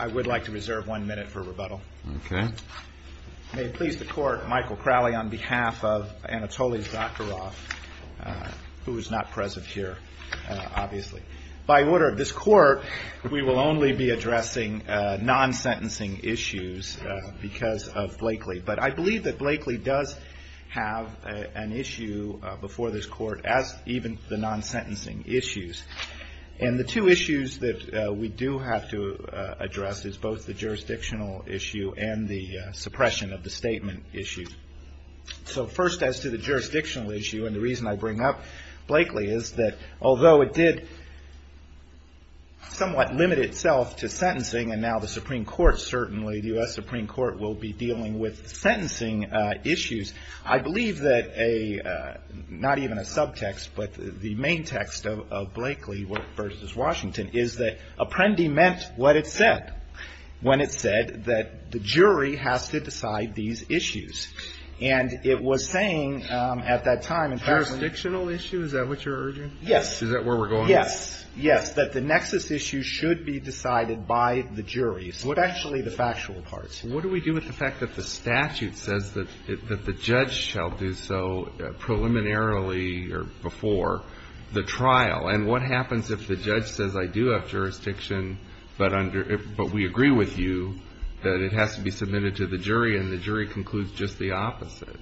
I would like to reserve one minute for rebuttal. May it please the Court, Michael Crowley on behalf of Anatoly Zakharov, who is not present here, obviously. By order of this Court, we will only be addressing non-sentencing issues because of Blakely. But I believe that Blakely does have an issue before this Court, as even the non-sentencing issues. And the two issues that we do have to address is both the jurisdictional issue and the suppression of the statement issue. So first as to the jurisdictional issue, and the reason I bring up Blakely is that although it did somewhat limit itself to sentencing, and now the Supreme Court, certainly the U.S. Supreme Court, will be dealing with sentencing issues, I believe that a, not even a subtext, but the main text of Blakely v. Washington is that Apprendi meant what it said when it said that the jury has to decide these issues. And it was saying at that time, in fact that the jury has to decide the jurisdictional issues. Is that what you're urging? Yes. Is that where we're going? Yes. Yes. That the nexus issues should be decided by the jury, especially the factual parts. What do we do with the fact that the statute says that the judge shall do so preliminarily or before the trial? And what happens if the judge says, I do have jurisdiction, but under – but we agree with you that it has to be submitted to the jury, and the jury concludes just the opposite?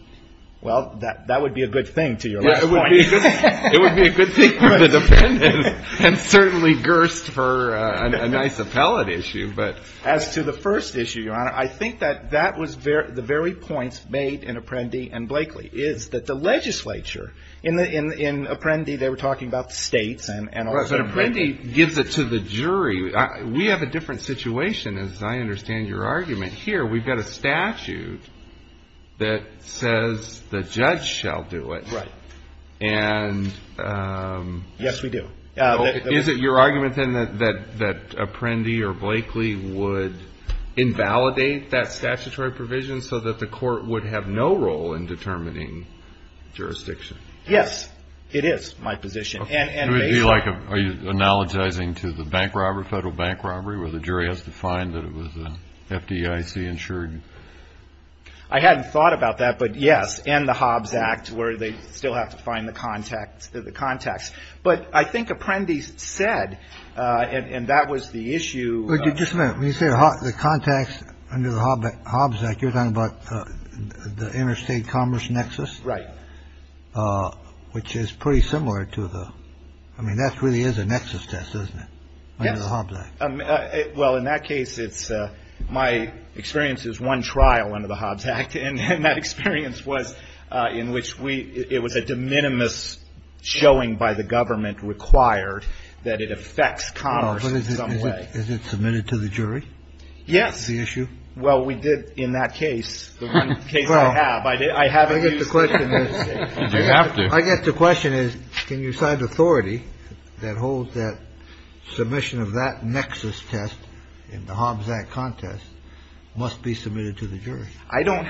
Well, that would be a good thing to your left point. It would be a good thing for the defendants, and certainly gerst for a nice appellate issue, but As to the first issue, Your Honor, I think that that was the very points made in Apprendi and Blakely, is that the legislature, in Apprendi they were talking about the states and also Apprendi But Apprendi gives it to the jury. We have a different situation, as I understand your that says the judge shall do it. Right. And Yes, we do. Is it your argument, then, that Apprendi or Blakely would invalidate that statutory provision so that the court would have no role in determining jurisdiction? Yes, it is my position, and Would it be like – are you analogizing to the bank robbery, federal bank robbery, where the jury has to find that it was FDIC-insured? I hadn't thought about that, but yes, and the Hobbs Act, where they still have to find the contacts. But I think Apprendi said, and that was the issue Just a minute. When you say the contacts under the Hobbs Act, you're talking about the interstate commerce nexus? Right. Which is pretty similar to the – I mean, that really is a nexus test, isn't it, under the Hobbs Act? Well, in that case, it's – my experience is one trial under the Hobbs Act, and that experience was in which we – it was a de minimis showing by the government required that it affects commerce in some way. Is it submitted to the jury? Yes. That's the issue? Well, we did in that case, the one case I have. I have it used. Well, I guess the question is You have to. I don't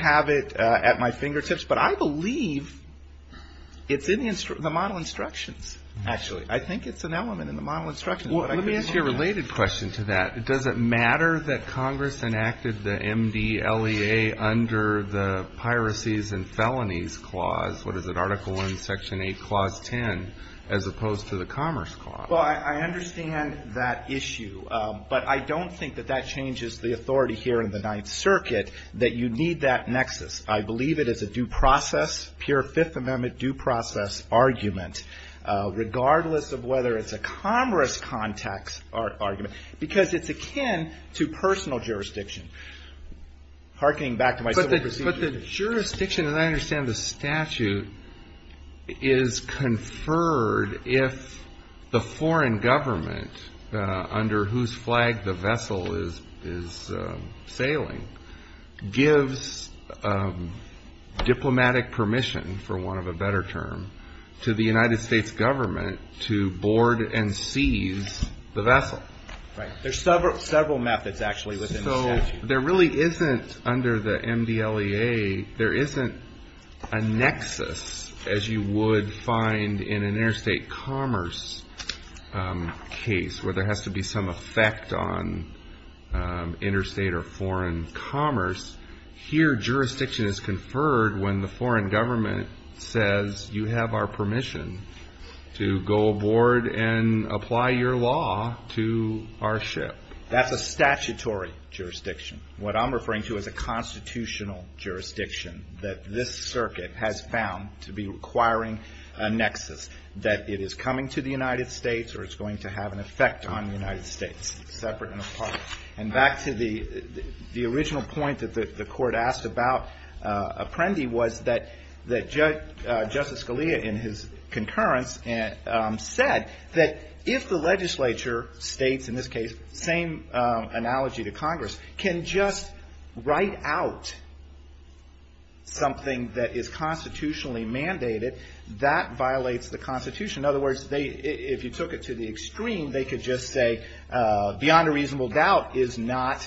have it at my fingertips, but I believe it's in the model instructions, actually. I think it's an element in the model instructions. Well, let me ask you a related question to that. Does it matter that Congress enacted the MDLEA under the Piracies and Felonies Clause – what is it, Article I, Section 8, Clause 10 – as opposed to the Commerce Clause? Well, I understand that issue, but I don't think that that changes the authority here in the Ninth Circuit that you need that nexus. I believe it is a due process, pure Fifth Amendment due process argument, regardless of whether it's a Congress context argument, because it's akin to personal jurisdiction. Harkening back to my civil procedure. But the jurisdiction, as I understand the statute, is conferred if the foreign government under whose flag the vessel is sailing gives diplomatic permission, for want of a better term, to the United States government to board and seize the vessel. Right. There's several methods, actually, within the statute. There really isn't, under the MDLEA, there isn't a nexus as you would find in an interstate commerce case, where there has to be some effect on interstate or foreign commerce. Here, jurisdiction is conferred when the foreign government says, you have our permission to go aboard and apply your law to our ship. That's a statutory jurisdiction. What I'm referring to is a constitutional jurisdiction that this Circuit has found to be requiring a nexus, that it is coming to the United States or it's going to have an effect on the United States, separate and apart. And back to the original point that the Court asked about Apprendi was that Justice Scalia, in his concurrence, said that if the legislature states, in this case, same analogy to Congress, can just write out something that is constitutionally mandated, that violates the Constitution. In other words, if you took it to the extreme, they could just say, beyond a reasonable doubt, is not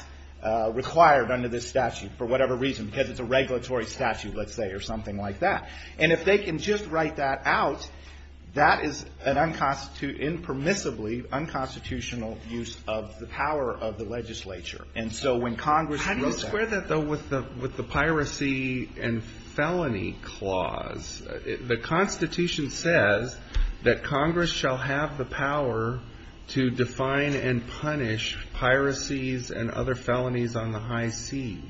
required under this statute, for whatever reason, because it's a regulatory statute, let's say, or something like that. And if they can just write that out, that is an impermissibly unconstitutional use of the power of the legislature. And so when Congress wrote that. How do you square that, though, with the piracy and felony clause? The Constitution says that Congress shall have the power to define and punish piracies and other felonies on the high seas.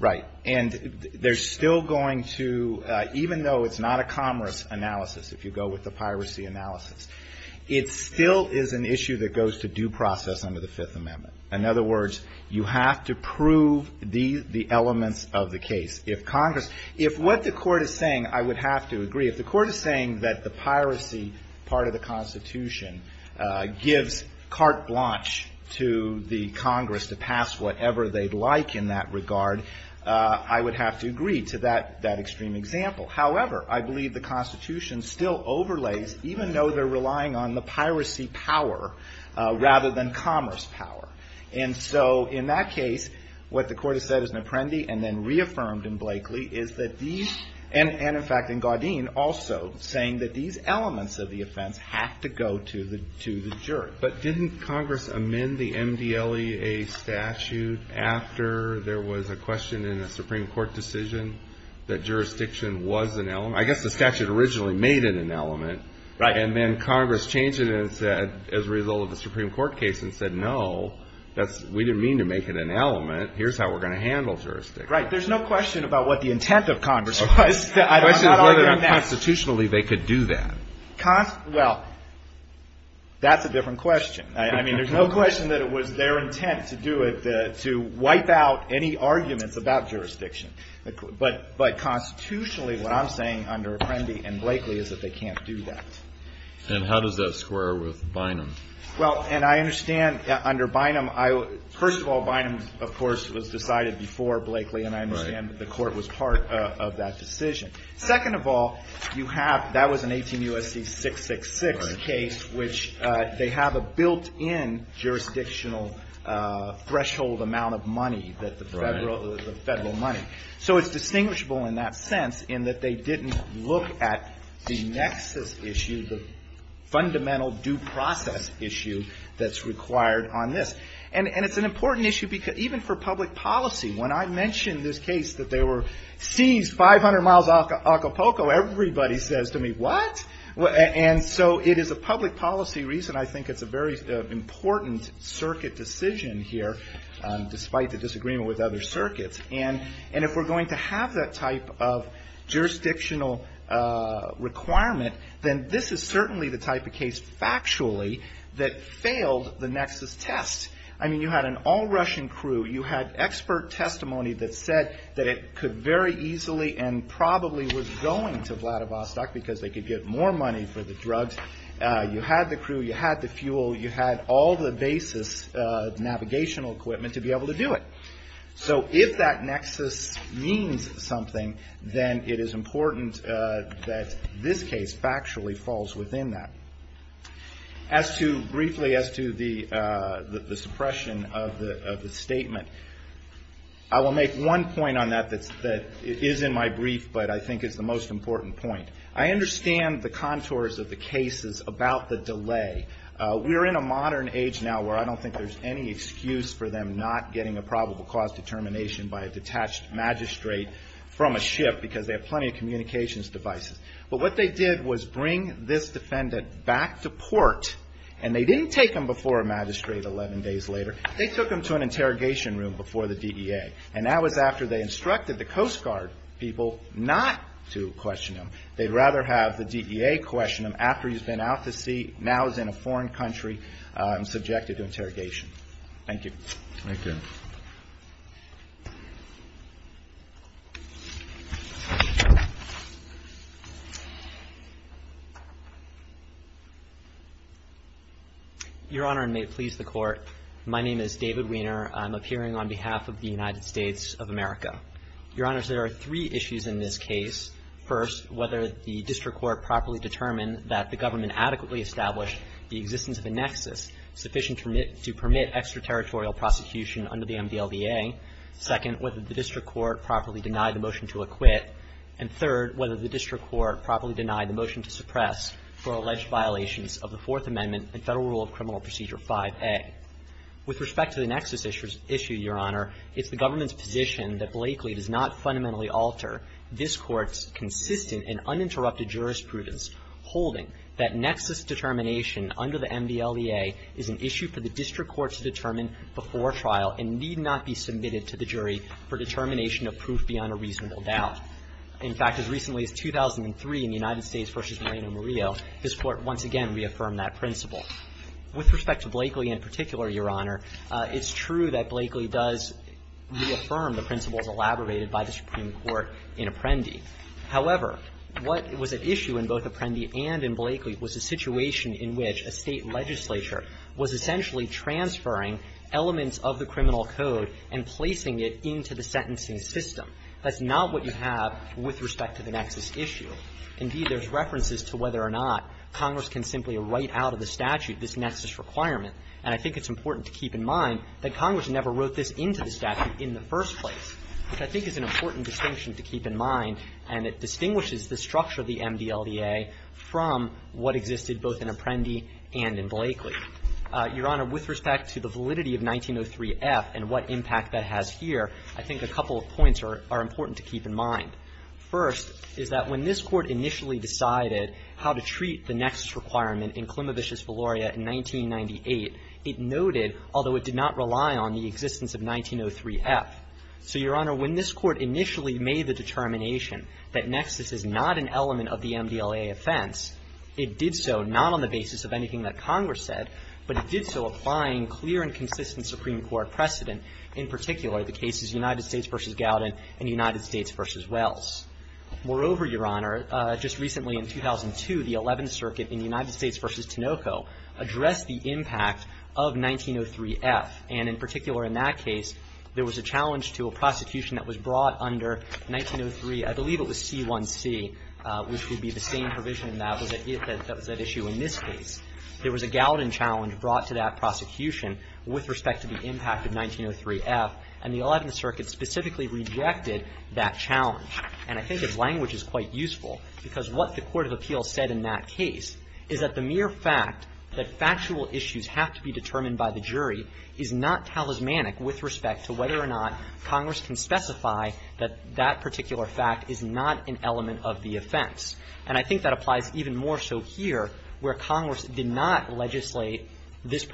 Right. And there's still going to, even though it's not a commerce analysis, if you go with the piracy analysis, it still is an issue that goes to due process under the Fifth Amendment. In other words, you have to prove the elements of the case. If Congress – if what the Court is saying, I would have to agree. If the Court is saying that the piracy part of the Constitution gives carte blanche to the Congress to pass whatever they'd like in that regard, I would have to agree to that extreme example. However, I believe the Constitution still overlays, even though they're relying on the piracy power rather than commerce power. And so in that case, what the Court has said as an apprendi and then reaffirmed in Blakely is that these – and in fact in Gaudin also saying that these elements of the offense have to go to the jury. But didn't Congress amend the MDLEA statute after there was a question in a Supreme Court decision that jurisdiction was an element? I guess the statute originally made it an element. Right. And then Congress changed it as a result of the Supreme Court case and said, no, that's – we didn't mean to make it an element. Here's how we're going to handle jurisdiction. Right. There's no question about what the intent of Congress was. I'm not arguing that. The question is whether constitutionally they could do that. Well, that's a different question. I mean, there's no question that it was their intent to do it, to wipe out any arguments about jurisdiction. But constitutionally, what I'm saying under apprendi and Blakely is that they can't do that. And how does that square with Bynum? Well, and I understand under Bynum, I – first of all, Bynum, of course, was decided before Blakely. Right. And I understand that the Court was part of that decision. Second of all, you have – that was an 18 U.S.C. 666 case, which they have a built-in jurisdictional threshold amount of money that the Federal – the Federal money. Right. So it's distinguishable in that sense in that they didn't look at the nexus issue, the fundamental due process issue that's required on this. And it's an important issue because – even for public policy. When I mention this case that they were seized 500 miles off of Acapulco, everybody says to me, what? And so it is a public policy reason. I think it's a very important circuit decision here, despite the fact that if we're going to have that type of jurisdictional requirement, then this is certainly the type of case, factually, that failed the nexus test. I mean, you had an all-Russian crew. You had expert testimony that said that it could very easily and probably was going to Vladivostok because they could get more money for the drugs. You had the crew. You had the fuel. You had all the basis navigational equipment to be able to do it. So if that nexus means something, then it is important that this case factually falls within that. As to – briefly as to the suppression of the statement, I will make one point on that that is in my brief but I think is the most important point. I understand the contours of the cases about the delay. We're in a modern age now where I don't think there's any excuse for them not getting a probable cause determination by a detached magistrate from a ship because they have plenty of communications devices. But what they did was bring this defendant back to port and they didn't take him before a magistrate 11 days later. They took him to an interrogation room before the DEA. And that was after they instructed the Coast Guard people not to question him. They'd rather have the DEA question him after he's been out in a foreign country subjected to interrogation. Thank you. Thank you. Your Honor, and may it please the Court, my name is David Weiner. I'm appearing on behalf of the United States of America. Your Honors, there are three issues in this case. First, whether the district court properly determined that the government adequately established the existence of a nexus sufficient to permit extraterritorial prosecution under the MDLDA. Second, whether the district court properly denied the motion to acquit. And third, whether the district court properly denied the motion to suppress for alleged violations of the Fourth Amendment and Federal Rule of Criminal Procedure 5a. With respect to the nexus issue, Your Honor, it's the government's position that Blakely does not fundamentally alter this Court's consistent and uninterrupted jurisprudence, holding that nexus determination under the MDLDA is an issue for the district court to determine before trial and need not be submitted to the jury for determination of proof beyond a reasonable doubt. In fact, as recently as 2003 in the United States v. Moreno-Murillo, this Court once again reaffirmed that principle. With respect to Blakely in particular, Your Honor, it's true that Blakely does reaffirm the principles elaborated by the Supreme Court in Apprendi. However, what was at issue in both Apprendi and in Blakely was a situation in which a State legislature was essentially transferring elements of the criminal code and placing it into the sentencing system. That's not what you have with respect to the nexus issue. Indeed, there's references to whether or not Congress can simply write out of the statute this nexus requirement. And I think it's important to keep in mind that Congress never wrote this into the statute in the first place, which I think is an important distinction to keep in mind, and it distinguishes the structure of the MDLDA from what existed both in Apprendi and in Blakely. Your Honor, with respect to the validity of 1903F and what impact that has here, I think a couple of points are important to keep in mind. First is that when this Court initially decided how to treat the nexus requirement in Klimovich's Valoria in 1998, it noted, although it did not rely on the existence of 1903F. So, Your Honor, when this Court initially made the determination that nexus is not an element of the MDLDA offense, it did so not on the basis of anything that Congress said, but it did so applying clear and consistent Supreme Court precedent, in particular the cases United States v. Gowdin and United States v. Wells. Moreover, Your Honor, just recently in 2002, the Eleventh Circuit in United States v. Tinoco addressed the impact of 1903F, and in particular in that case, there was a challenge to a prosecution that was brought under 1903, I believe it was C1C, which would be the same provision that was at issue in this case. There was a Gowdin challenge brought to that prosecution with respect to the impact of 1903F, and the Eleventh Circuit specifically rejected that challenge. And I think its language is quite useful, because what the Court of Appeals said in that case is that the mere fact that factual issues have to be determined by the jury is not talismanic with respect to whether or not Congress can specify that that particular fact is not an element of the offense. And I think that applies even more so here, where Congress did not legislate this to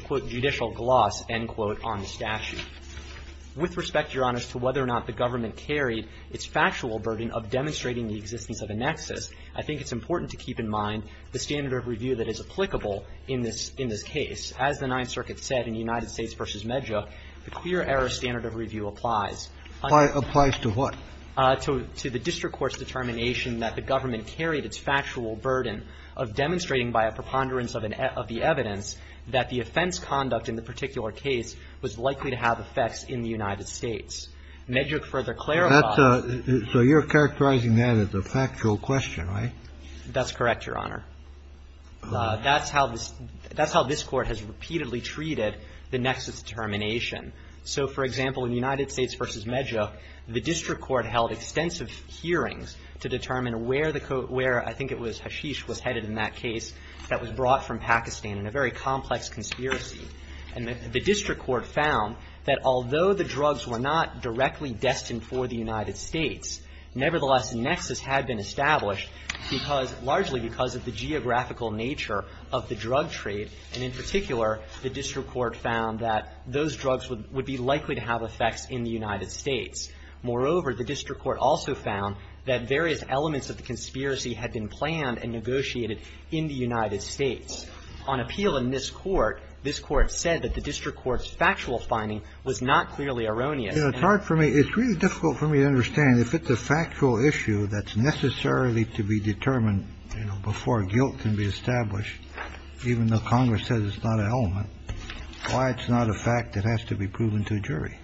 quote judicial gloss, end quote, on the statute. With respect, Your Honor, as to whether or not the government carried its factual burden of demonstrating the existence of a nexus, I think it's important to keep in mind the standard of review that is applicable in this case. As the Ninth Circuit said in United States v. Medja, the clear error standard of review applies. Applies to what? To the district court's determination that the government carried its factual burden of demonstrating by a preponderance of the evidence that the offense conduct in the particular case was likely to have effects in the United States. Medjuk further clarified. So you're characterizing that as a factual question, right? That's correct, Your Honor. That's how this Court has repeatedly treated the nexus determination. So, for example, in United States v. Medjuk, the district court held extensive hearings to determine where the court, where I think it was Hashish was headed in that case that was brought from Pakistan in a very complex conspiracy. And the district court found that although the drugs were not directly destined for the United States, nevertheless, the nexus had been established because, largely because of the geographical nature of the drug trade. And in particular, the district court found that those drugs would be likely to have effects in the United States. Moreover, the district court also found that various elements of the conspiracy had been planned and negotiated in the United States. On appeal in this Court, this Court said that the district court's factual finding was not clearly erroneous. It's hard for me. It's really difficult for me to understand if it's a factual issue that's necessarily to be determined, you know, before guilt can be established, even though Congress says it's not an element, why it's not a fact that has to be proven to a jury.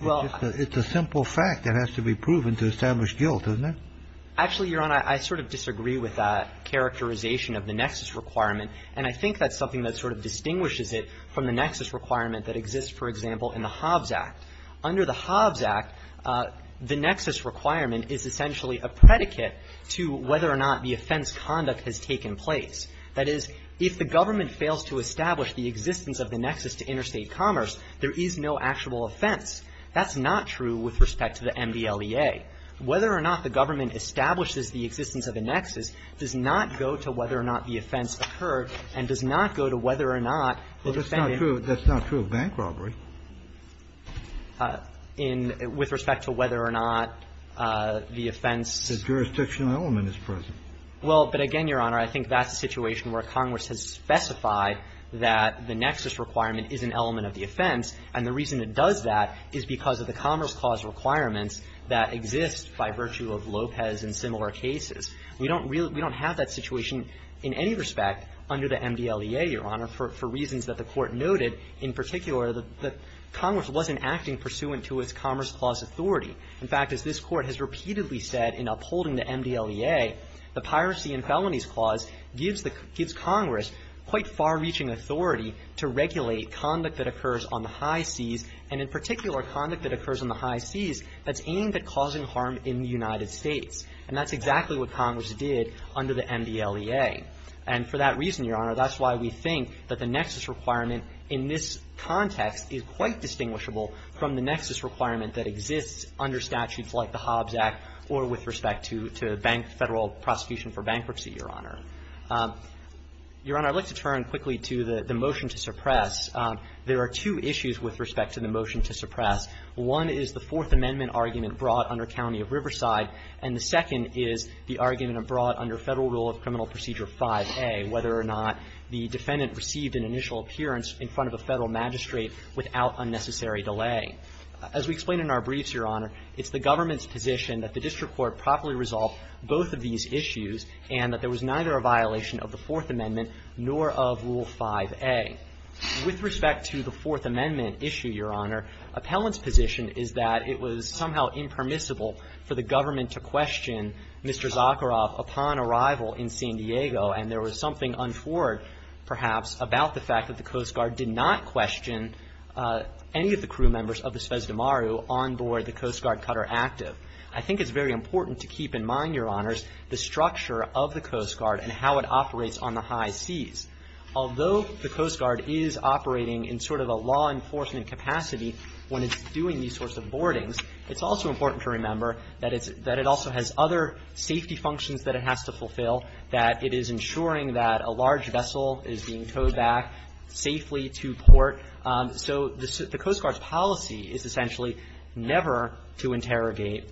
It's a simple fact that has to be proven to establish guilt, doesn't it? Actually, Your Honor, I sort of disagree with that characterization of the nexus requirement, and I think that's something that sort of distinguishes it from the nexus requirement that exists, for example, in the Hobbs Act. Under the Hobbs Act, the nexus requirement is essentially a predicate to whether or not the offense conduct has taken place. That is, if the government fails to establish the existence of the nexus to interstate commerce, there is no actual offense. That's not true with respect to the MDLEA. Whether or not the government establishes the existence of a nexus does not go to whether or not the offense occurred and does not go to whether or not the defendant That's not true of bank robbery. With respect to whether or not the offense's jurisdictional element is present. Well, but again, Your Honor, I think that's a situation where Congress has specified that the nexus requirement is an element of the offense, and the reason it does that is because of the Commerce Clause requirements that exist by virtue of Lopez and similar cases. We don't have that situation in any respect under the MDLEA, Your Honor, for reasons that the Court noted in particular that Congress wasn't acting pursuant to its Commerce Clause authority. In fact, as this Court has repeatedly said in upholding the MDLEA, the Piracy and Felonies Clause gives the – gives Congress quite far-reaching authority to regulate conduct that occurs on the high seas, and in particular, conduct that occurs on the high seas that's aimed at causing harm in the United States. And that's exactly what Congress did under the MDLEA. And for that reason, Your Honor, that's why we think that the nexus requirement in this context is quite distinguishable from the nexus requirement that exists under statutes like the Hobbs Act or with respect to bank – Federal prosecution for bankruptcy, Your Honor. Your Honor, I'd like to turn quickly to the motion to suppress. There are two issues with respect to the motion to suppress. One is the Fourth Amendment argument brought under County of Riverside, and the second is the argument brought under Federal Rule of Criminal Procedure 5a, whether or not the defendant received an initial appearance in front of a Federal magistrate without unnecessary delay. As we explained in our briefs, Your Honor, it's the government's position that the district court properly resolved both of these issues and that there was neither a violation of the Fourth Amendment nor of Rule 5a. With respect to the Fourth Amendment issue, Your Honor, appellant's position is that it was somehow impermissible for the government to question Mr. Zakharov upon arrival in San Diego, and there was something untoward, perhaps, about the fact that the Coast Guard did not question any of the crew members of the Spes de Maru on board the Coast Guard Cutter Active. I think it's very important to keep in mind, Your Honors, the structure of the Coast Guard and how it operates on the high seas. Although the Coast Guard is operating in sort of a law enforcement capacity when it's doing these sorts of boardings, it's also important to remember that it also has other safety functions that it has to fulfill, that it is ensuring that a large vessel is being towed back safely to port. So the Coast Guard's policy is essentially never to interrogate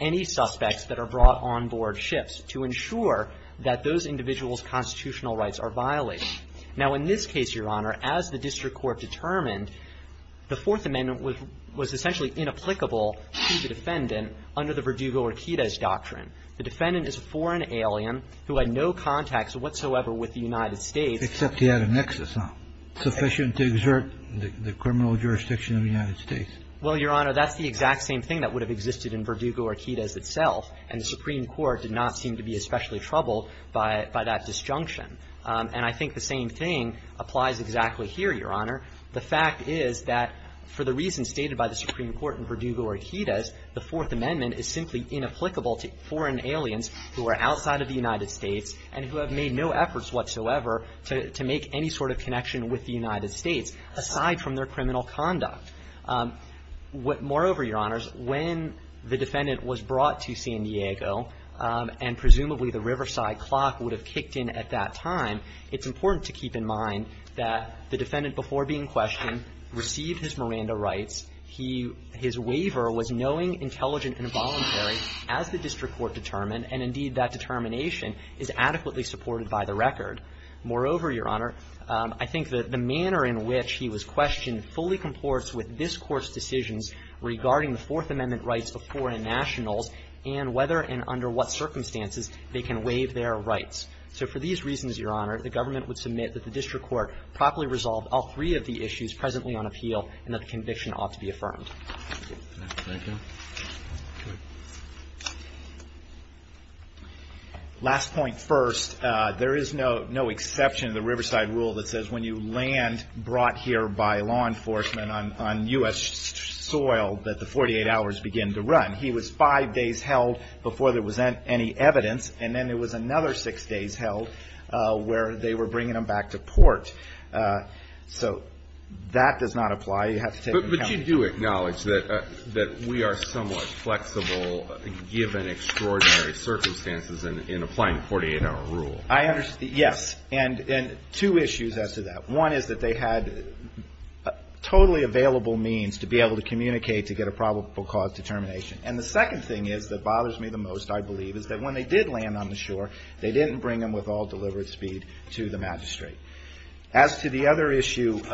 any suspects that are brought on board ships, to ensure that those individuals' constitutional rights are violated. Now, in this case, Your Honor, as the district court determined, the Fourth Amendment was essentially inapplicable to the defendant under the Verdugo-Orquidez doctrine. The defendant is a foreign alien who had no contacts whatsoever with the United States. Kennedy. Except he had a nexus, huh? Sufficient to exert the criminal jurisdiction of the United States. Well, Your Honor, that's the exact same thing that would have existed in Verdugo-Orquidez itself, and the Supreme Court did not seem to be especially troubled by that disjunction. And I think the same thing applies exactly here, Your Honor. The fact is that for the reasons stated by the Supreme Court in Verdugo-Orquidez, the Fourth Amendment is simply inapplicable to foreign aliens who are outside of the United States and who have made no efforts whatsoever to make any sort of connection with the United States, aside from their criminal conduct. Moreover, Your Honors, when the defendant was brought to San Diego, and presumably the Riverside clock would have kicked in at that time, it's important to keep in mind that the defendant, before being questioned, received his Miranda rights. He — his waiver was knowing, intelligent and voluntary, as the district court determined. And indeed, that determination is adequately supported by the record. Moreover, Your Honor, I think that the manner in which he was questioned fully comports with this Court's decisions regarding the Fourth Amendment rights of foreign nationals and whether and under what circumstances they can waive their rights. So for these reasons, Your Honor, the government would submit that the district court properly resolved all three of the issues presently on appeal and that the conviction ought to be affirmed. Thank you. Last point first. There is no — no exception to the Riverside rule that says when you land brought here by law enforcement on U.S. soil that the 48 hours begin to run. He was five days held before there was any evidence, and then there was another six days held where they were bringing him back to port. So that does not apply. You have to take into account — But you do acknowledge that we are somewhat flexible, given extraordinary circumstances, in applying the 48-hour rule. Yes. And two issues as to that. One is that they had totally available means to be able to communicate to get a probable cause determination. And the second thing is that bothers me the most, I believe, is that when they did land on the shore, they didn't bring him with all deliberate speed to the magistrate. As to the other issue, the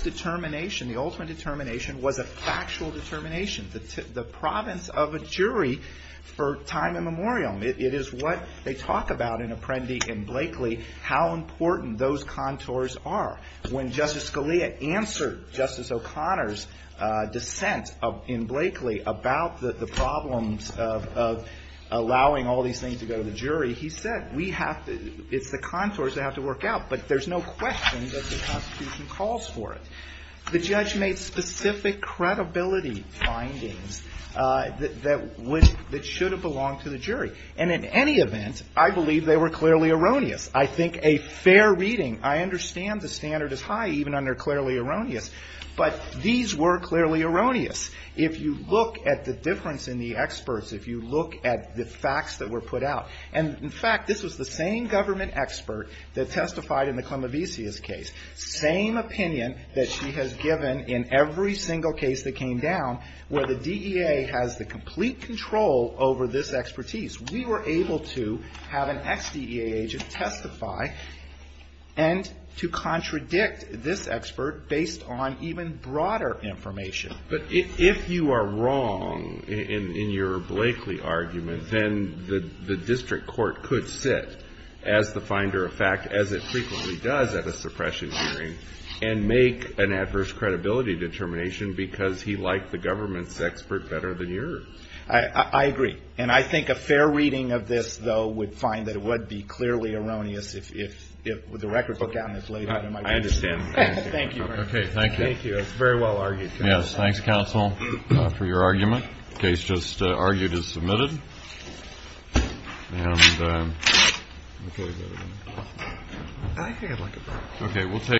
determination, the ultimate determination, was a factual determination. The province of a jury for time immemorial. It is what they talk about in Apprendi and Blakely, how important those contours are. When Justice Scalia answered Justice O'Connor's dissent in Blakely about the problems of allowing all these things to go to the jury, he said, we have to — it's the contours that have to work out, but there's no question that the Constitution calls for it. The judge made specific credibility findings that should have belonged to the jury. And in any event, I believe they were clearly erroneous. I think a fair reading — I understand the standard is high even under clearly erroneous, but these were clearly erroneous. If you look at the difference in the experts, if you look at the case, same opinion that she has given in every single case that came down where the DEA has the complete control over this expertise. We were able to have an ex-DEA agent testify and to contradict this expert based on even broader information. But if you are wrong in your Blakely argument, then the district court could sit as the finder of fact, as it frequently does at a suppression hearing, and make an adverse credibility determination because he liked the government's expert better than yours. I agree. And I think a fair reading of this, though, would find that it would be clearly erroneous if the record book on this laid out in my opinion. I understand. Thank you. Okay. Thank you. Thank you. It's very well argued. Yes. Thanks, counsel, for your argument. Case just argued is submitted. And I think I'd like a break. Okay. We'll take a break.